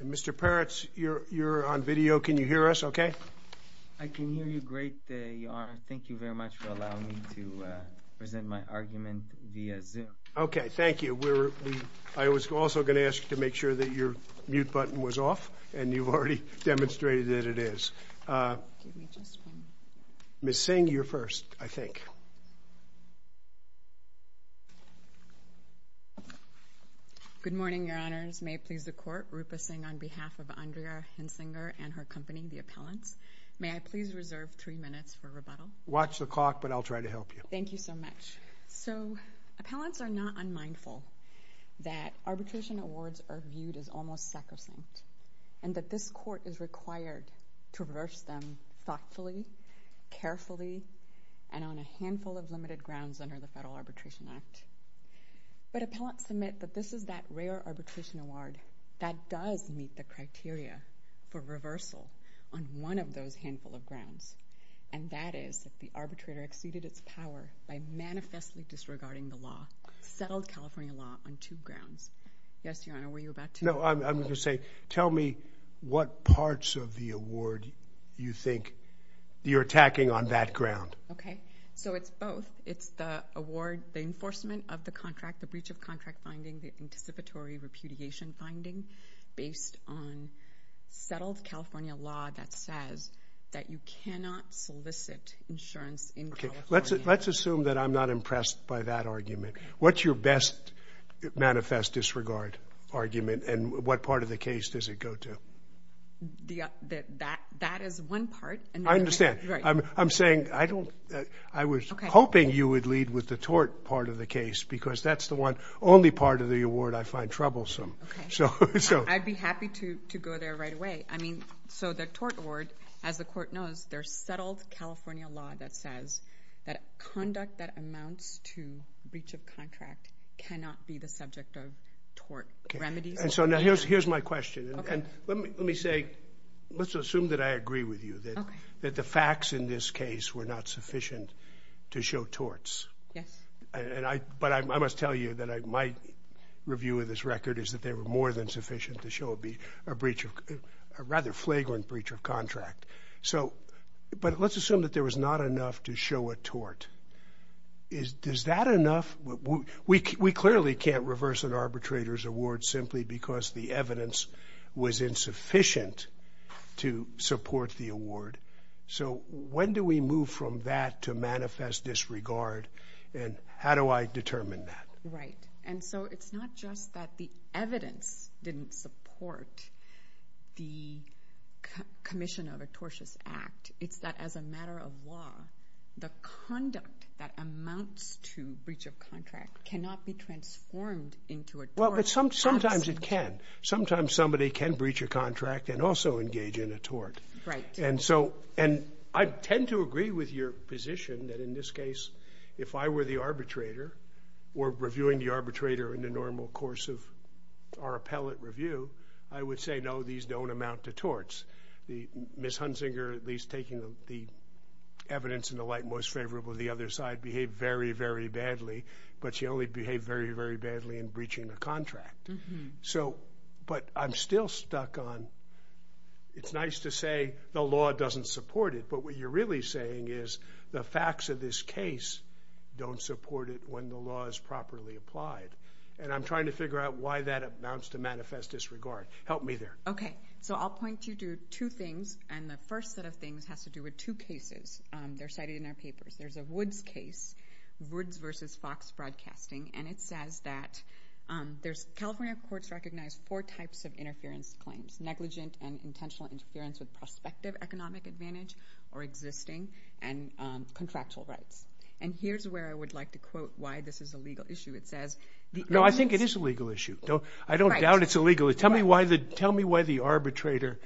Mr. Peretz, you're on video, can you hear us okay? I can hear you great, Your Honor. Thank you very much for allowing me to present my argument via Zoom. Okay, thank you. I was also going to ask you to make sure that your mute button was off, and you've already demonstrated that it is. Ms. Singh, you're first, I think. Good morning, Your Honors. May it please the Court, Rupa Singh on behalf of Andrea Hunsinger and her company, The Appellants. May I please reserve three minutes for rebuttal? Watch the clock, but I'll try to help you. Thank you so much. So Appellants are not unmindful that arbitration awards are viewed as almost sacrosanct, and that this Court is required to reverse them thoughtfully, carefully, and on a handful of limited grounds under the Federal Arbitration Act. But Appellants submit that this is that rare arbitration award that does meet the criteria for reversal on one of those handful of grounds, and that is that the arbitrator exceeded its power by manifestly disregarding the law, settled California law, on two grounds. Yes, Your Honor, were you about to? No, I'm going to say, tell me what parts of the award you think you're attacking on that ground. Okay, so it's both. It's the award, the enforcement of the contract, the breach of contract finding, the anticipatory repudiation finding, based on settled California law that says that you cannot solicit insurance in California. Okay, let's assume that I'm not impressed by that argument. What's your best manifest disregard argument, and what part of the case does it go to? That is one part. I understand. Right. I'm saying, I don't, I was hoping you would lead with the tort part of the case because that's the one, only part of the award I find troublesome. Okay. So. So. I'd be happy to go there right away. I mean, so the tort award, as the court knows, there's settled California law that says that conduct that amounts to breach of contract cannot be the subject of tort remedies. And so now here's my question, and let me say, let's assume that I agree with you, that the facts in this case were not sufficient to show torts. Yes. But I must tell you that my review of this record is that they were more than sufficient to show a breach of, a rather flagrant breach of contract. So, but let's assume that there was not enough to show a tort. Is that enough? We clearly can't reverse an arbitrator's award simply because the evidence was insufficient to support the award. So when do we move from that to manifest disregard, and how do I determine that? Right. And so it's not just that the evidence didn't support the commission of a tortious act. It's that as a matter of law, the conduct that amounts to breach of contract cannot be transformed into a tort. Well, but sometimes it can. Sometimes somebody can breach a contract and also engage in a tort. Right. And so, and I tend to agree with your position that in this case, if I were the arbitrator or reviewing the arbitrator in the normal course of our appellate review, I would say, no, these don't amount to torts. Ms. Hunzinger, at least taking the evidence in the light most favorable of the other side, behaved very, very badly, but she only behaved very, very badly in breaching the contract. So, but I'm still stuck on, it's nice to say the law doesn't support it, but what you're really saying is the facts of this case don't support it when the law is properly applied. And I'm trying to figure out why that amounts to manifest disregard. Help me there. Okay. So I'll point you to two things, and the first set of things has to do with two cases. They're cited in our papers. There's a Woods case, Woods versus Fox Broadcasting, and it says that there's, California courts recognize four types of interference claims, negligent and intentional interference with prospective economic advantage or existing and contractual rights. And here's where I would like to quote why this is a legal issue. It says, the evidence... No, I think it is a legal issue. I don't doubt it's a legal issue. Tell me why the arbitrator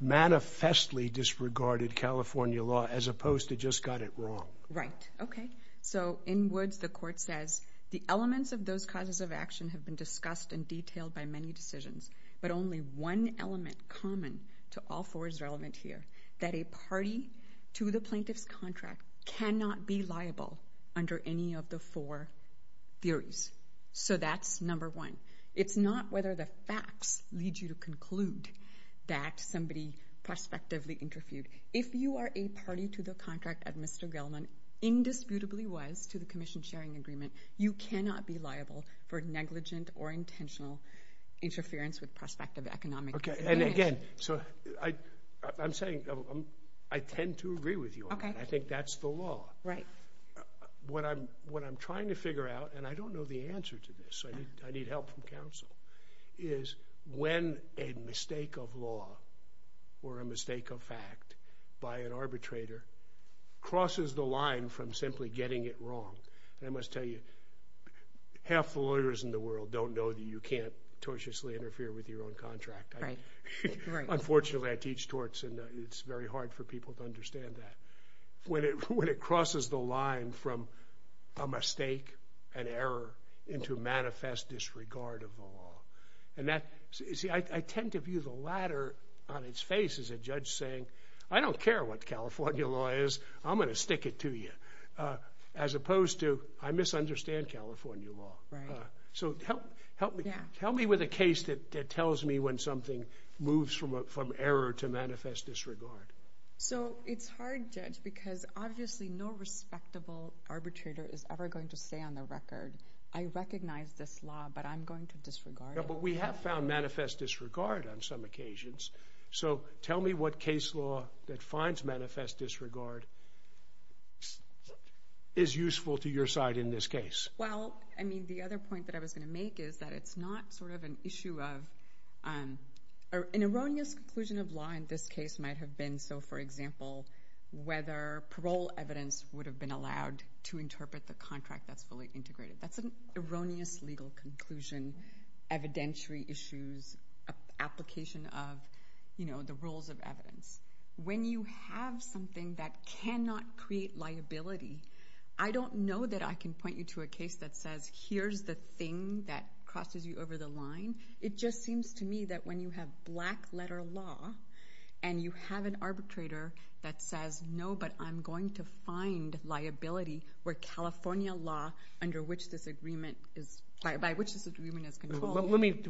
manifestly disregarded California law as opposed to just got it wrong. Right. Okay. So in Woods, the court says, the elements of those causes of action have been discussed in detail by many decisions, but only one element common to all four is relevant here, that a party to the plaintiff's contract cannot be liable under any of the four theories. So that's number one. It's not whether the facts lead you to conclude that somebody prospectively interfered. If you are a party to the contract of Mr. Gelman, indisputably was to the commission sharing agreement, you cannot be liable for negligent or intentional interference with prospective economic advantage. Okay. And again, so I'm saying, I tend to agree with you on that. I think that's the law. Right. What I'm trying to figure out, and I don't know the answer to this, so I need help from counsel, is when a mistake of law or a mistake of fact by an arbitrator crosses the line from simply getting it wrong, and I must tell you, half the lawyers in the world don't know that you can't tortiously interfere with your own contract. Right. Unfortunately, I teach torts, and it's very hard for people to understand that. When it crosses the line from a mistake, an error, into manifest disregard of the law, and that, see, I tend to view the latter on its face as a judge saying, I don't care what as opposed to, I misunderstand California law. Right. So help me with a case that tells me when something moves from error to manifest disregard. So it's hard, Judge, because obviously no respectable arbitrator is ever going to say on the record, I recognize this law, but I'm going to disregard it. Yeah, but we have found manifest disregard on some occasions, so tell me what case law that finds manifest disregard is useful to your side in this case. Well, I mean, the other point that I was going to make is that it's not sort of an issue of, an erroneous conclusion of law in this case might have been, so for example, whether parole evidence would have been allowed to interpret the contract that's fully integrated. That's an erroneous legal conclusion, evidentiary issues, application of the rules of evidence. When you have something that cannot create liability, I don't know that I can point you to a case that says, here's the thing that crosses you over the line. It just seems to me that when you have black letter law and you have an arbitrator that says, no, but I'm going to find liability where California law under which this agreement is, by which this agreement is controlled. Let me,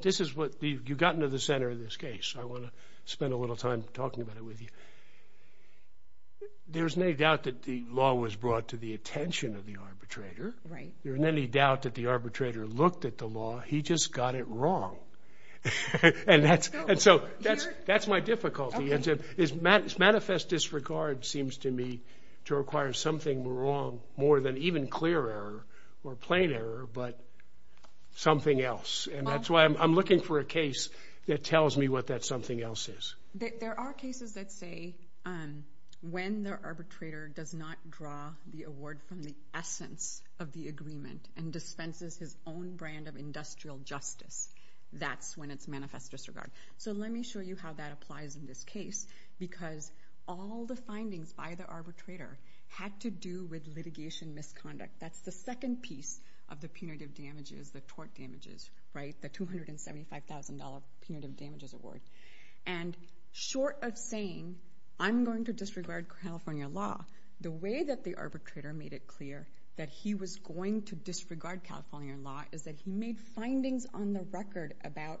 this is what, you've gotten to the center of this case, I want to spend a little time talking about it with you. There's no doubt that the law was brought to the attention of the arbitrator. There's no doubt that the arbitrator looked at the law, he just got it wrong. And that's, and so that's, that's my difficulty is manifest disregard seems to me to require something wrong more than even clear error or plain error, but something else. And that's why I'm looking for a case that tells me what that something else is. There are cases that say when the arbitrator does not draw the award from the essence of the agreement and dispenses his own brand of industrial justice, that's when it's manifest disregard. So let me show you how that applies in this case, because all the findings by the arbitrator had to do with litigation misconduct. That's the second piece of the punitive damages, the tort damages, right, the $275,000 punitive damages award. And short of saying, I'm going to disregard California law, the way that the arbitrator made it clear that he was going to disregard California law is that he made findings on the record about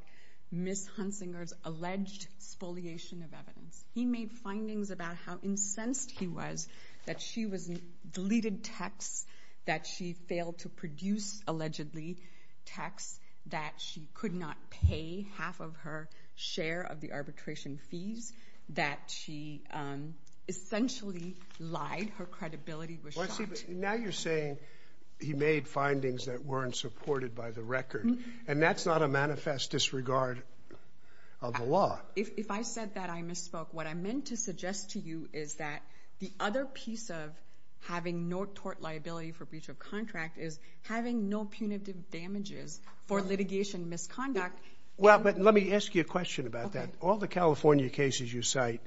Ms. Hunsinger's alleged spoliation of evidence. He made findings about how incensed he was, that she was, deleted texts, that she failed to produce allegedly texts, that she could not pay half of her share of the arbitration fees, that she essentially lied, her credibility was shot. Now you're saying he made findings that weren't supported by the record, and that's not a manifest disregard of the law. If I said that I misspoke, what I meant to suggest to you is that the other piece of having no tort liability for breach of contract is having no punitive damages for litigation misconduct. Well, but let me ask you a question about that. All the California cases you cite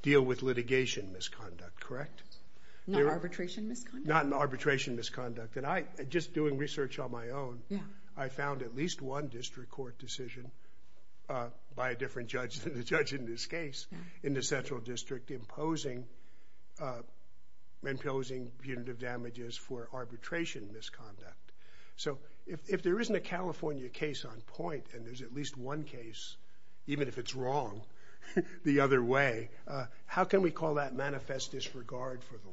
deal with litigation misconduct, correct? Not arbitration misconduct? Not an arbitration misconduct, and I, just doing research on my own, I found at least one district court decision by a different judge than the judge in this case in the central district imposing, imposing punitive damages for arbitration misconduct. So if, if there isn't a California case on point, and there's at least one case, even if it's wrong, the other way, how can we call that manifest disregard for the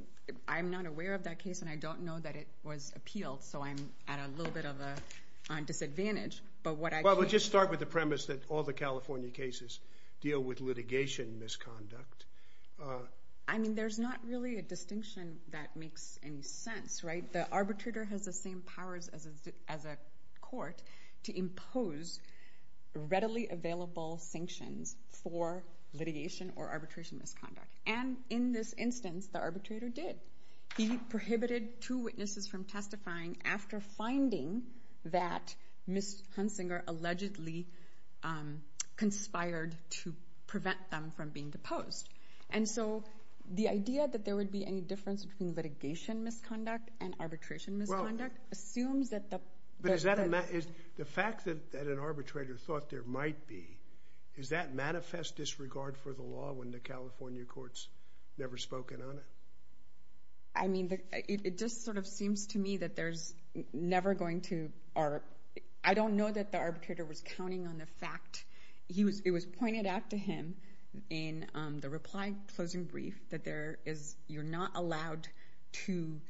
law? I'm not aware of that case, and I don't know that it was appealed, so I'm at a little bit of a disadvantage, but what I can... Well, we'll just start with the premise that all the California cases deal with litigation misconduct. I mean, there's not really a distinction that makes any sense, right? The arbitrator has the same powers as a, as a court to impose readily available sanctions for litigation or arbitration misconduct. And in this instance, the arbitrator did. He prohibited two witnesses from testifying after finding that Ms. Hunsinger allegedly conspired to prevent them from being deposed. And so the idea that there would be any difference between litigation misconduct and arbitration misconduct assumes that the... But is that a... The fact that an arbitrator thought there might be, is that manifest disregard for the law? I mean, it just sort of seems to me that there's never going to... I don't know that the arbitrator was counting on the fact. It was pointed out to him in the reply closing brief that there is... You're not allowed to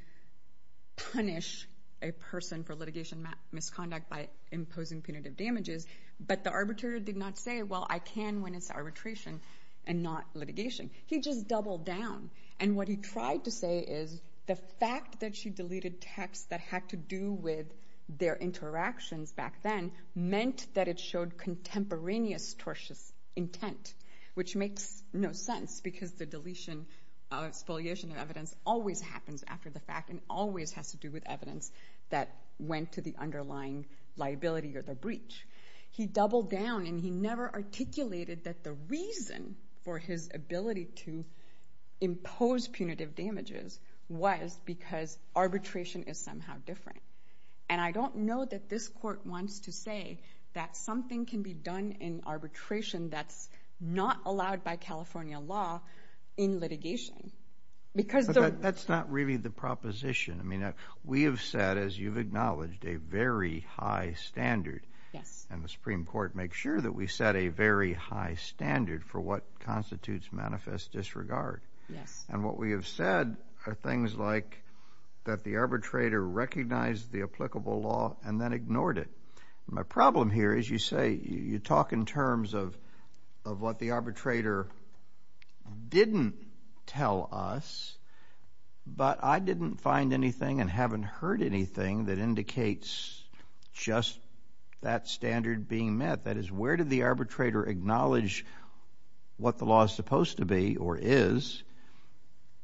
punish a person for litigation misconduct by imposing punitive damages, but the arbitrator did not say, well, I can when it's arbitration and not litigation. He just doubled down. And what he tried to say is the fact that she deleted texts that had to do with their interactions back then meant that it showed contemporaneous tortious intent, which makes no sense because the deletion, spoliation of evidence always happens after the fact and always has to do with evidence that went to the underlying liability or the breach. He doubled down and he never articulated that the reason for his ability to impose punitive damages was because arbitration is somehow different. And I don't know that this court wants to say that something can be done in arbitration that's not allowed by California law in litigation because... That's not really the proposition. I mean, we have said, as you've acknowledged, a very high standard. Yes. And the Supreme Court makes sure that we set a very high standard for what constitutes manifest disregard. Yes. And what we have said are things like that the arbitrator recognized the applicable law and then ignored it. My problem here is you say, you talk in terms of what the arbitrator didn't tell us, but I didn't find anything and haven't heard anything that indicates just that standard being met. That is, where did the arbitrator acknowledge what the law is supposed to be or is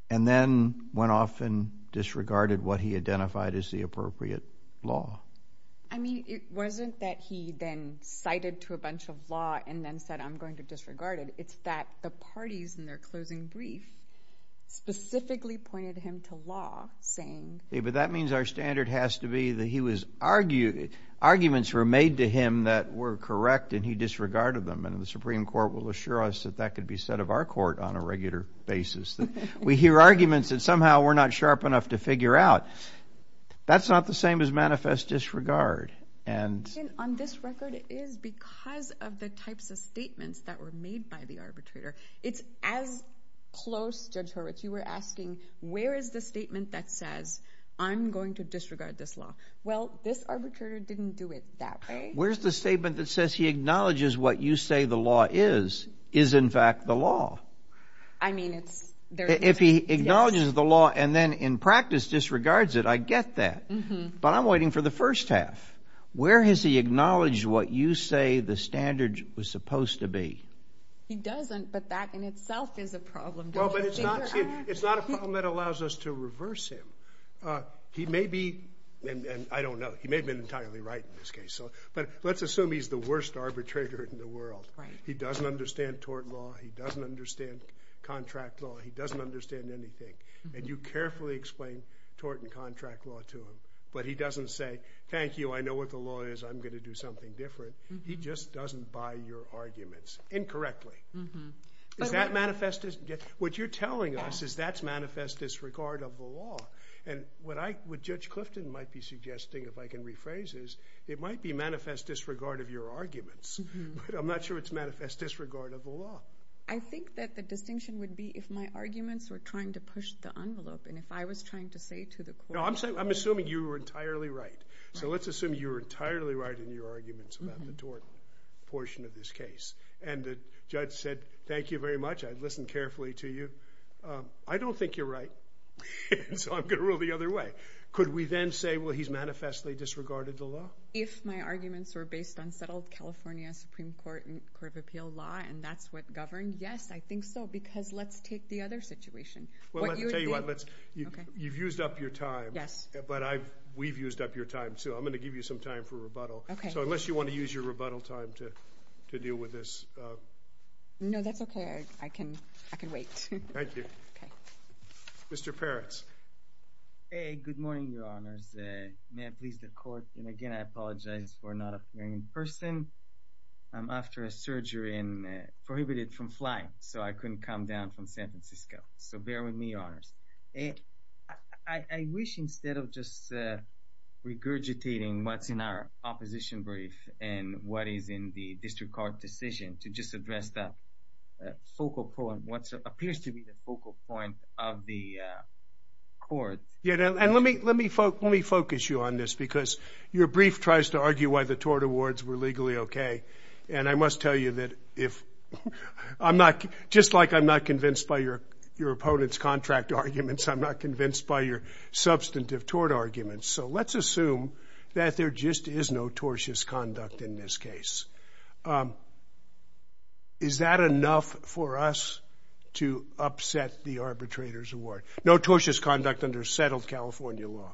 and then went off and disregarded what he identified as the appropriate law? I mean, it wasn't that he then cited to a bunch of law and then said, I'm going to disregard it. It's that the parties in their closing brief specifically pointed him to law saying... That means our standard has to be that arguments were made to him that were correct and he disregarded them. And the Supreme Court will assure us that that could be said of our court on a regular basis. We hear arguments that somehow we're not sharp enough to figure out. That's not the same as manifest disregard. On this record, it is because of the types of statements that were made by the arbitrator. It's as close, Judge Horwitz, you were asking, where is the statement that says, I'm going to disregard this law? Well, this arbitrator didn't do it that way. Where's the statement that says he acknowledges what you say the law is, is in fact the law? I mean, it's... If he acknowledges the law and then in practice disregards it, I get that, but I'm waiting for the first half. Where has he acknowledged what you say the standard was supposed to be? He doesn't, but that in itself is a problem. Well, but it's not a problem that allows us to reverse him. He may be, and I don't know, he may have been entirely right in this case, but let's assume he's the worst arbitrator in the world. He doesn't understand tort law, he doesn't understand contract law, he doesn't understand anything. And you carefully explain tort and contract law to him, but he doesn't say, thank you, I know what the law is, I'm going to do something different. He just doesn't buy your arguments, incorrectly. What you're telling us is that's manifest disregard of the law. And what Judge Clifton might be suggesting, if I can rephrase this, it might be manifest disregard of your arguments, but I'm not sure it's manifest disregard of the law. I think that the distinction would be if my arguments were trying to push the envelope, and if I was trying to say to the court... I'm assuming you were entirely right. So let's assume you were entirely right in your arguments about the tort portion of this case. And the judge said, thank you very much, I listened carefully to you. I don't think you're right, so I'm going to rule the other way. Could we then say, well, he's manifestly disregarded the law? If my arguments were based on settled California Supreme Court and Court of Appeal law, and that's what governed? Yes, I think so, because let's take the other situation. Well, let's tell you what, you've used up your time, but we've used up your time, too. I'm going to give you some time for rebuttal. So unless you want to use your rebuttal time to deal with this... No, that's okay. I can wait. Thank you. Okay. Mr. Peretz. Hey, good morning, Your Honors. May I please the court, and again, I apologize for not appearing in person. I'm after a surgery and prohibited from flying, so I couldn't come down from San Francisco. So bear with me, Your Honors. I wish instead of just regurgitating what's in our opposition brief and what is in the district court decision to just address that focal point, what appears to be the focal point of the court. And let me focus you on this, because your brief tries to argue why the tort awards were legally okay. And I must tell you that if... Just like I'm not convinced by your opponent's contract arguments, I'm not convinced by your substantive tort arguments. So let's assume that there just is notorious conduct in this case. Is that enough for us to upset the arbitrator's award? Notorious conduct under settled California law?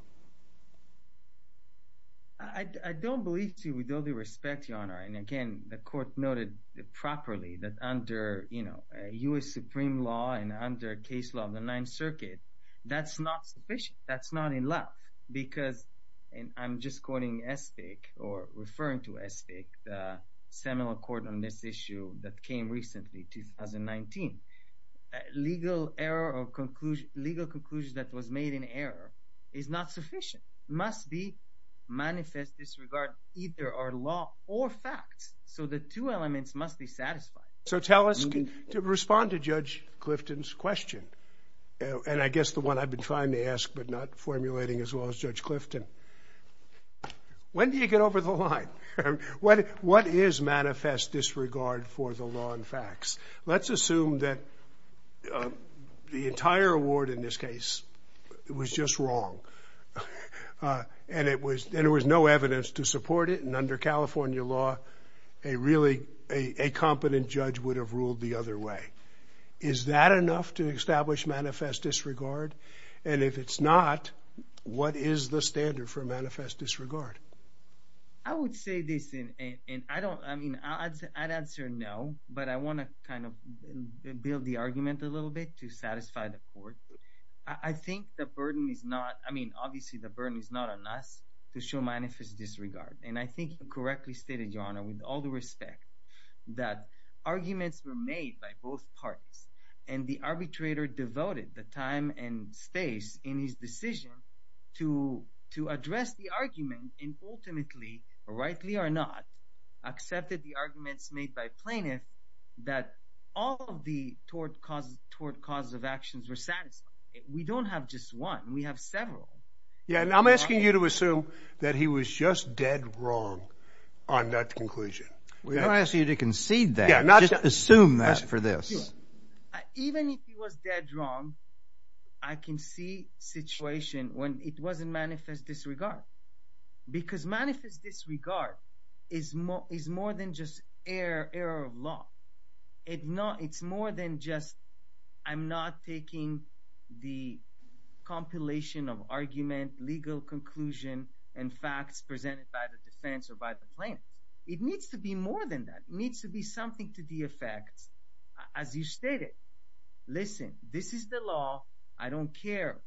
I don't believe so, with all due respect, Your Honor. And again, the court noted properly that under U.S. Supreme Law and under case law of the Ninth Circuit, that's not sufficient. That's not enough because, and I'm just quoting Espik or referring to Espik, the seminal court on this issue that came recently, 2019. Legal error or conclusion, legal conclusion that was made in error is not sufficient. Must be manifest disregard either our law or facts. So the two elements must be satisfied. So tell us, to respond to Judge Clifton's question, and I guess the one I've been trying to ask but not formulating as well as Judge Clifton, when do you get over the line? What is manifest disregard for the law and facts? Let's assume that the entire award in this case was just wrong, and there was no evidence to support it, and under California law, a really, a competent judge would have ruled the other way. Is that enough to establish manifest disregard? And if it's not, what is the standard for manifest disregard? I would say this, and I don't, I mean, I'd answer no, but I want to kind of build the argument a little bit to satisfy the court. I think the burden is not, I mean, obviously the burden is not on us to show manifest disregard, and I think you correctly stated, Your Honor, with all the respect, that arguments were made by both parties, and the arbitrator devoted the time and space in his decision to address the argument, and ultimately, rightly or not, accepted the arguments made by plaintiff, that all of the tort causes of actions were satisfied. We don't have just one. We have several. Yeah, and I'm asking you to assume that he was just dead wrong on that conclusion. We don't ask you to concede that, just assume that for this. Even if he was dead wrong, I can see situation when it wasn't manifest disregard, because manifest disregard is more than just error of law. It's more than just, I'm not taking the compilation of argument, legal conclusion, and facts presented by the defense or by the plaintiff. It needs to be more than that. It needs to be something to the effect, as you stated, listen, this is the law. I don't care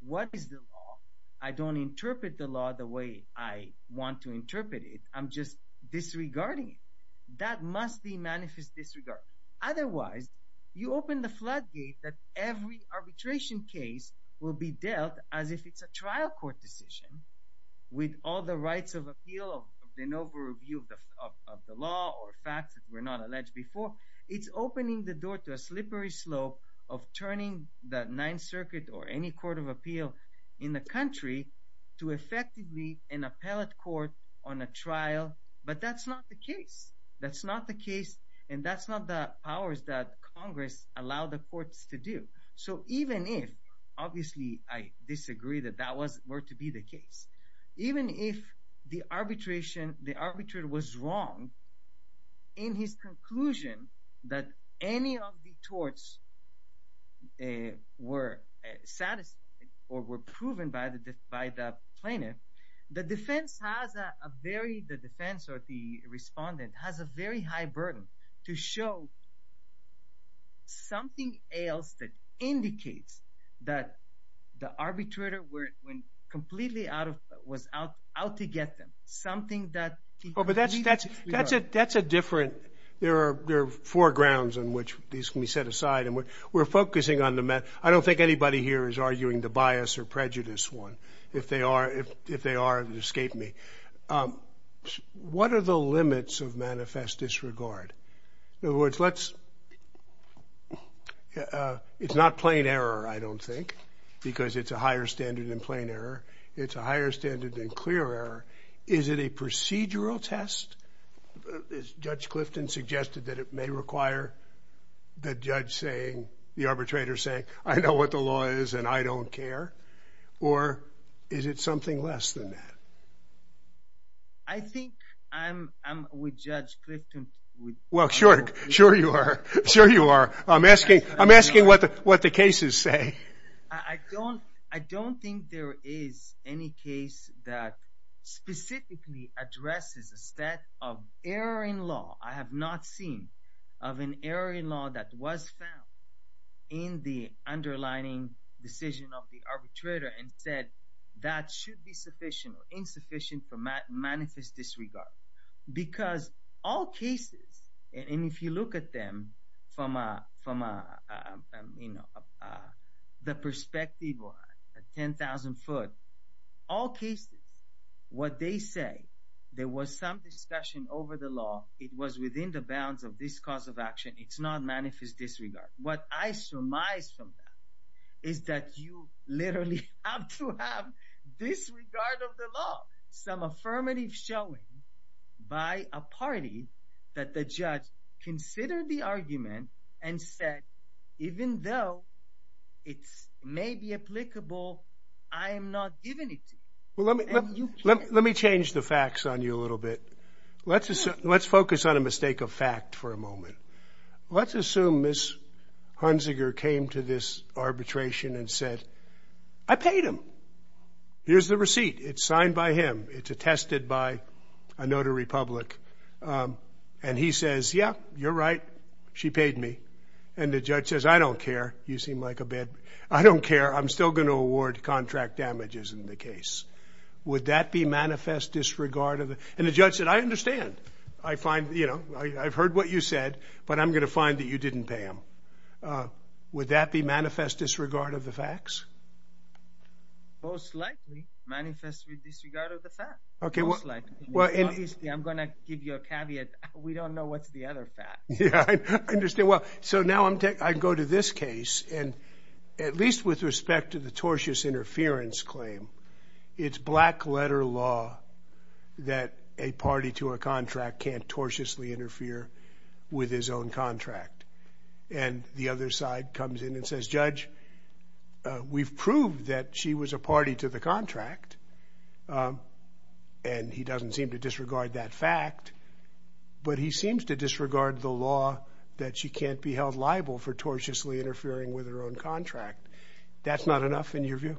what is the law. I don't interpret the law the way I want to interpret it. I'm just disregarding it. That must be manifest disregard. Otherwise, you open the floodgate that every arbitration case will be dealt as if it's a trial court decision with all the rights of appeal of the noble review of the law or facts that were not alleged before. It's opening the door to a slippery slope of turning the Ninth Circuit or any court of appeal in the country to effectively an appellate court on a trial. But that's not the case. That's not the case, and that's not the powers that Congress allow the courts to do. So even if, obviously, I disagree that that was, were to be the case, even if the arbitration, the arbitrator was wrong in his conclusion that any of the torts were satisfied or were proven by the plaintiff, the defense has a very, the defense or the respondent has a very high burden to show something else that indicates that the arbitrator went completely out of, was out to get them. Something that... Oh, but that's a different, there are four grounds on which these can be set aside, and we're focusing on the, I don't think anybody here is arguing the bias or prejudice one. If they are, it would escape me. Okay. What are the limits of manifest disregard? In other words, let's... It's not plain error, I don't think, because it's a higher standard than plain error. It's a higher standard than clear error. Is it a procedural test, as Judge Clifton suggested, that it may require the judge saying, the arbitrator saying, I know what the law is and I don't care, or is it something less than that? I think I'm with Judge Clifton. Well, sure, sure you are. Sure you are. I'm asking what the cases say. I don't think there is any case that specifically addresses a set of error in law. I have not seen of an error in law that was found in the underlining decision of the arbitrator and said that should be sufficient or insufficient for manifest disregard. Because all cases, and if you look at them from the perspective of 10,000 foot, all cases, what they say, there was some discussion over the law. It was within the bounds of this cause of action. It's not manifest disregard. What I surmise from that is that you literally have to have disregard of the law. Some affirmative showing by a party that the judge considered the argument and said, even though it may be applicable, I am not giving it to you. Let me change the facts on you a little bit. Let's focus on a mistake of fact for a moment. Let's assume Ms. Hunziker came to this arbitration and said, I paid him. Here's the receipt. It's signed by him. It's attested by a notary public. And he says, yeah, you're right. She paid me. And the judge says, I don't care. You seem like a bad. I don't care. I'm still going to award contract damages in the case. Would that be manifest disregard? And the judge said, I understand. I find, you know, I've heard what you said. But I'm going to find that you didn't pay him. Would that be manifest disregard of the facts? Most likely, manifest disregard of the facts. Most likely. I'm going to give you a caveat. We don't know what's the other facts. Yeah. I understand. Well, so now I go to this case. And at least with respect to the tortious interference claim, it's black letter law that a party to a contract can't tortiously interfere with his own contract. And the other side comes in and says, Judge, we've proved that she was a party to the contract. And he doesn't seem to disregard that fact. But he seems to disregard the law that she can't be held liable for tortiously interfering with her own contract. That's not enough in your view?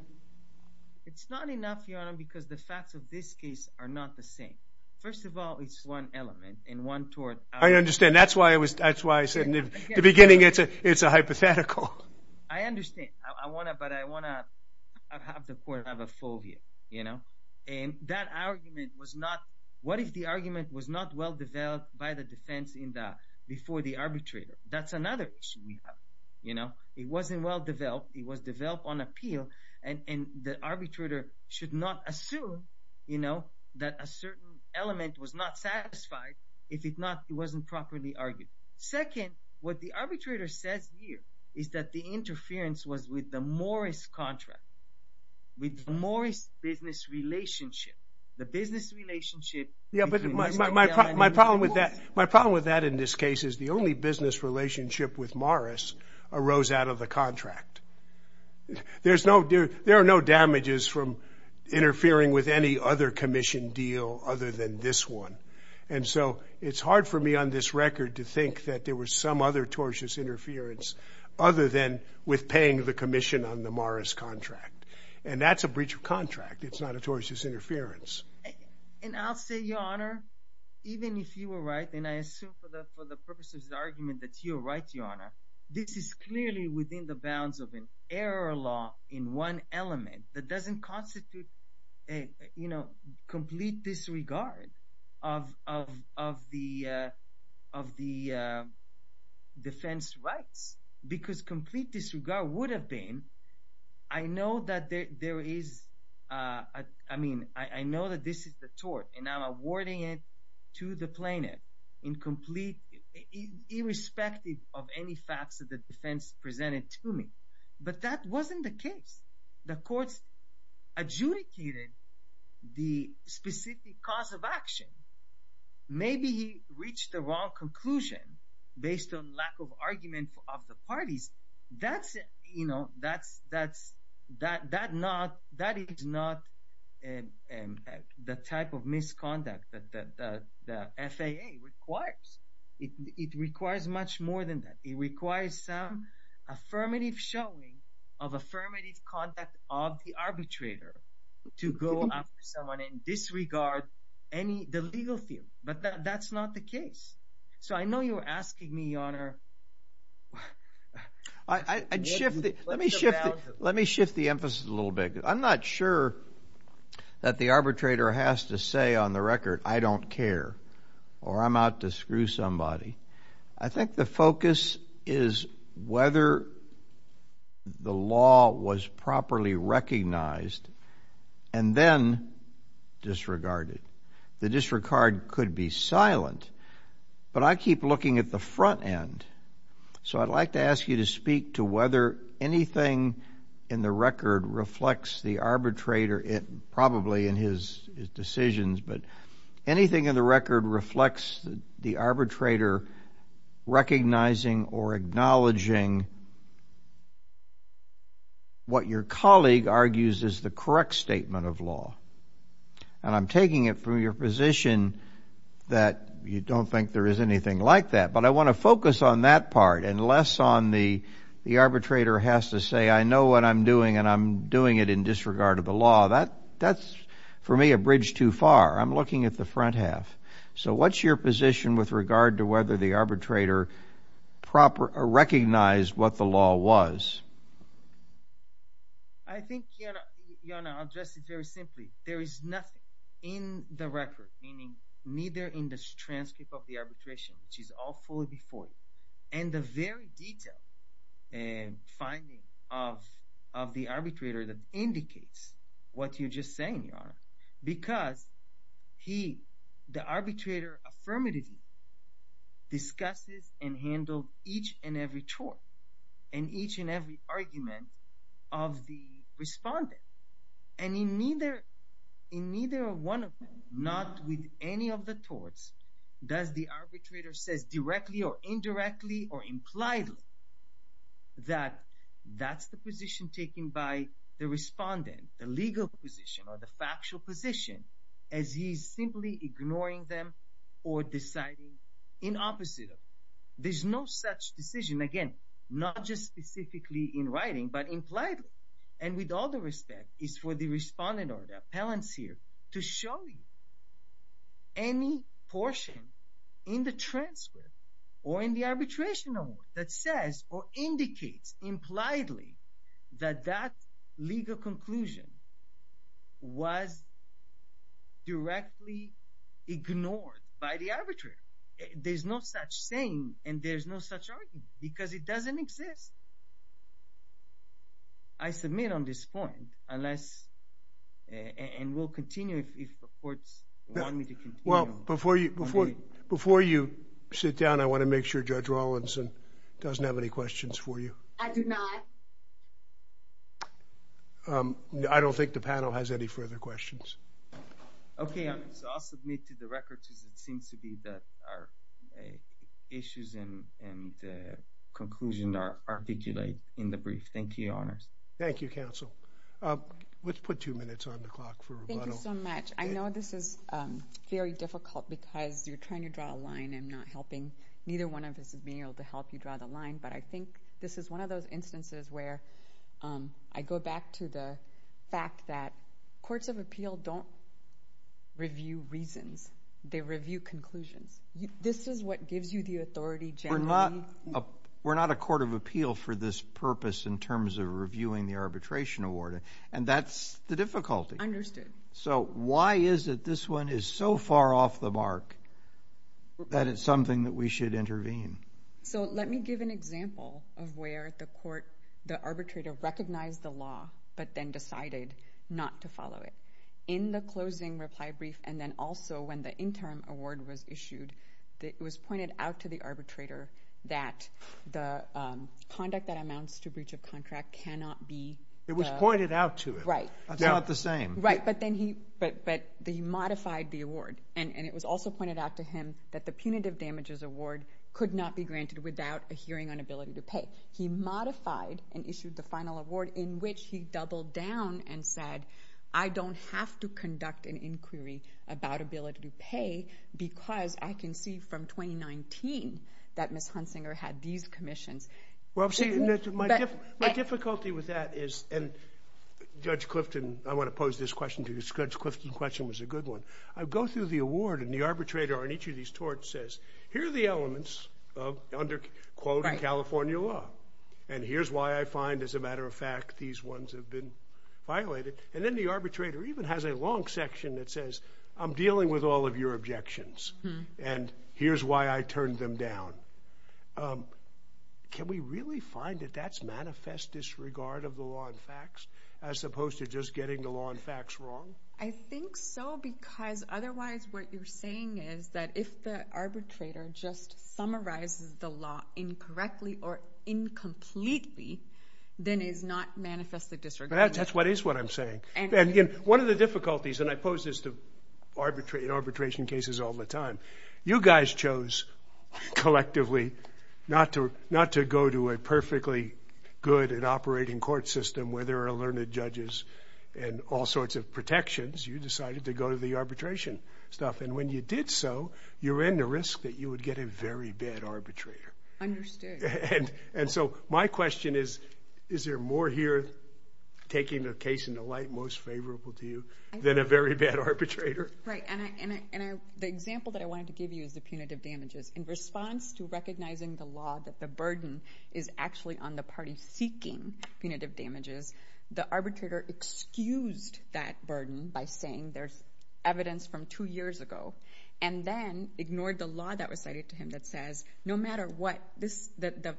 It's not enough, Your Honor, because the facts of this case are not the same. First of all, it's one element and one tort. I understand. That's why I said in the beginning it's a hypothetical. I understand. I want to, but I want to have the court have a fovea, you know. And that argument was not, what if the argument was not well developed by the defense before the arbitrator? That's another issue we have, you know. It wasn't well developed. It was developed on appeal. And the arbitrator should not assume, you know, that a certain element was not satisfied. If it's not, it wasn't properly argued. Second, what the arbitrator says here is that the interference was with the Morris contract, with the Morris business relationship. The business relationship. Yeah, but my problem with that, my problem with that in this case is the only business relationship with Morris arose out of the contract. There's no, there are no damages from interfering with any other commission deal other than this one. And so it's hard for me on this record to think that there was some other tortious interference other than with paying the commission on the Morris contract. And that's a breach of contract. It's not a tortious interference. And I'll say, Your Honor, even if you were right, and I assume for the purposes of the to your right, Your Honor, this is clearly within the bounds of an error law in one element that doesn't constitute a, you know, complete disregard of the defense rights. Because complete disregard would have been, I know that there is, I mean, I know that this is the tort and I'm awarding it to the plaintiff in complete, irrespective of any facts of the defense presented to me. But that wasn't the case. The courts adjudicated the specific cause of action. Maybe he reached the wrong conclusion based on lack of argument of the parties. That's, you know, that's, that's, that, that not, that is not the type of misconduct that the FAA requires. It requires much more than that. It requires some affirmative showing of affirmative conduct of the arbitrator to go after someone and disregard any, the legal field. But that's not the case. So I know you were asking me, Your Honor. I'd shift, let me shift, let me shift the emphasis a little bit. I'm not sure that the arbitrator has to say on the record, I don't care or I'm out to screw somebody. I think the focus is whether the law was properly recognized and then disregarded. The disregard could be silent, but I keep looking at the front end. So I'd like to ask you to speak to whether anything in the record reflects the arbitrator, probably in his decisions, but anything in the record reflects the arbitrator recognizing or acknowledging what your colleague argues is the correct statement of law. And I'm taking it from your position that you don't think there is anything like that. But I want to focus on that part and less on the, the arbitrator has to say, I know what I'm doing and I'm doing it in disregard of the law. That, that's, for me, a bridge too far. I'm looking at the front half. So what's your position with regard to whether the arbitrator proper, recognized what the law was? I think, Yonah, I'll address it very simply. There is nothing in the record, meaning neither in the transcript of the arbitration, which is all fully before you, and the very detailed finding of, of the arbitrator that indicates what you're just saying, Yonah, because he, the arbitrator affirmatively discusses and handled each and every tort. And each and every argument of the respondent. And in neither, in neither one of them, not with any of the torts, does the arbitrator says directly or indirectly or impliedly that that's the position taken by the respondent, the legal position or the factual position as he's simply ignoring them or deciding in opposite of them. There's no such decision. Again, not just specifically in writing, but impliedly and with all the respect is for the respondent or the appellants here to show you any portion in the transcript or in the arbitration award that says or indicates impliedly that that legal conclusion was directly ignored by the arbitrator. There's no such thing and there's no such argument because it doesn't exist. I submit on this point unless, and we'll continue if the courts want me to continue. Well, before you, before you sit down, I want to make sure Judge Rawlinson doesn't have any questions for you. I do not. I don't think the panel has any further questions. Okay, so I'll submit to the records as it seems to be that our issues and the conclusion are articulated in the brief. Thank you, Your Honors. Thank you, counsel. Let's put two minutes on the clock for rebuttal. Thank you so much. I know this is very difficult because you're trying to draw a line and not helping. Neither one of us is being able to help you draw the line, but I think this is one of those instances where I go back to the fact that courts of appeal don't review reasons. They review conclusions. This is what gives you the authority generally. We're not a court of appeal for this purpose in terms of reviewing the arbitration award, and that's the difficulty. Understood. So why is it this one is so far off the mark that it's something that we should intervene? So let me give an example of where the arbitrator recognized the law, but then decided not to follow it. In the closing reply brief and then also when the interim award was issued, it was pointed out to the arbitrator that the conduct that amounts to breach of contract cannot be— It was pointed out to him. Right. That's not the same. Right, but then he modified the award, and it was also pointed out to him that the punitive damages award could not be granted without a hearing on ability to pay. He modified and issued the final award in which he doubled down and said, I don't have to conduct an inquiry about ability to pay because I can see from 2019 that Ms. Hunsinger had these commissions. Well, see, my difficulty with that is—and Judge Clifton, I want to pose this question to you, because Judge Clifton's question was a good one. I go through the award, and the arbitrator on each of these torts says, here are the elements of under-quoted California law, and here's why I find, as a matter of fact, these ones have been violated. And then the arbitrator even has a long section that says, I'm dealing with all of your objections, and here's why I turned them down. Can we really find that that's manifest disregard of the law and facts as opposed to just getting the law and facts wrong? I think so, because otherwise what you're saying is that if the arbitrator just summarizes the law incorrectly or incompletely, then it is not manifestly disregarding. That's what is what I'm saying. And one of the difficulties, and I pose this to arbitration cases all the time, you guys chose collectively not to go to a perfectly good and operating court system where there are learned judges and all sorts of protections. You decided to go to the arbitration stuff. And when you did so, you ran the risk that you would get a very bad arbitrator. Understood. And so my question is, is there more here taking a case in the light most favorable to you than a very bad arbitrator? Right. And the example that I wanted to give you is the punitive damages. In response to recognizing the law that the burden is actually on the party seeking punitive damages, the arbitrator excused that burden by saying there's evidence from two years ago, and then ignored the law that was cited to him that says no matter what, the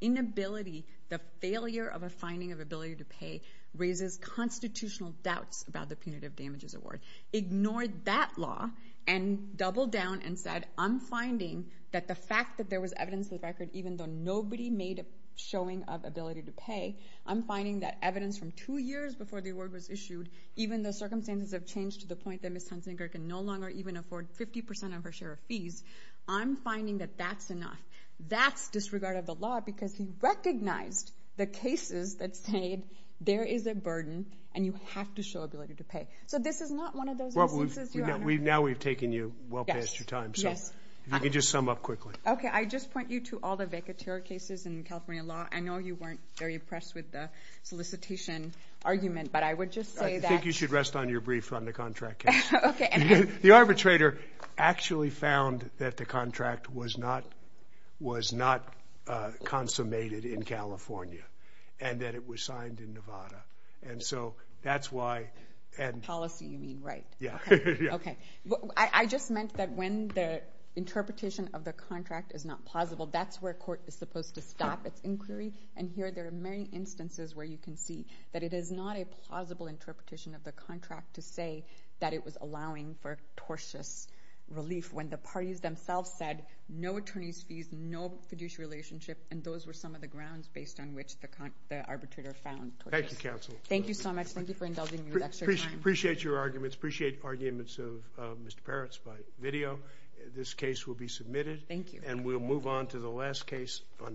inability, the failure of a finding of ability to pay raises constitutional doubts about the punitive damages award. Ignored that law and doubled down and said, I'm finding that the fact that there was evidence of the record, even though nobody made a showing of ability to pay, I'm finding that evidence from two years before the award was issued, even though circumstances have changed to the point that Ms. Hunsinger can no longer even afford 50% of her share of fees, I'm finding that that's enough. That's disregard of the law because he recognized the cases that said there is a burden and you have to show ability to pay. So this is not one of those instances, Your Honor. Now we've taken you well past your time, so if you could just sum up quickly. Okay. I just point you to all the vacateur cases in California law. I know you weren't very impressed with the solicitation argument, but I would just say that... I think you should rest on your brief on the contract case. Okay. The arbitrator actually found that the contract was not consummated in California and that it was signed in Nevada. And so that's why... Policy, you mean, right. Yeah. Okay. I just meant that when the interpretation of the contract is not plausible, that's where court is supposed to stop its inquiry. And here there are many instances where you can see that it is not a plausible interpretation of the contract to say that it was allowing for tortious relief when the parties themselves said no attorney's fees, no fiduciary relationship, and those were some of the grounds based on which the arbitrator found tortious relief. Thank you, counsel. Thank you so much. Thank you for indulging me with extra time. Appreciate your arguments. Appreciate arguments of Mr. Peretz by video. This case will be submitted. Thank you. And we'll move on to the last case on...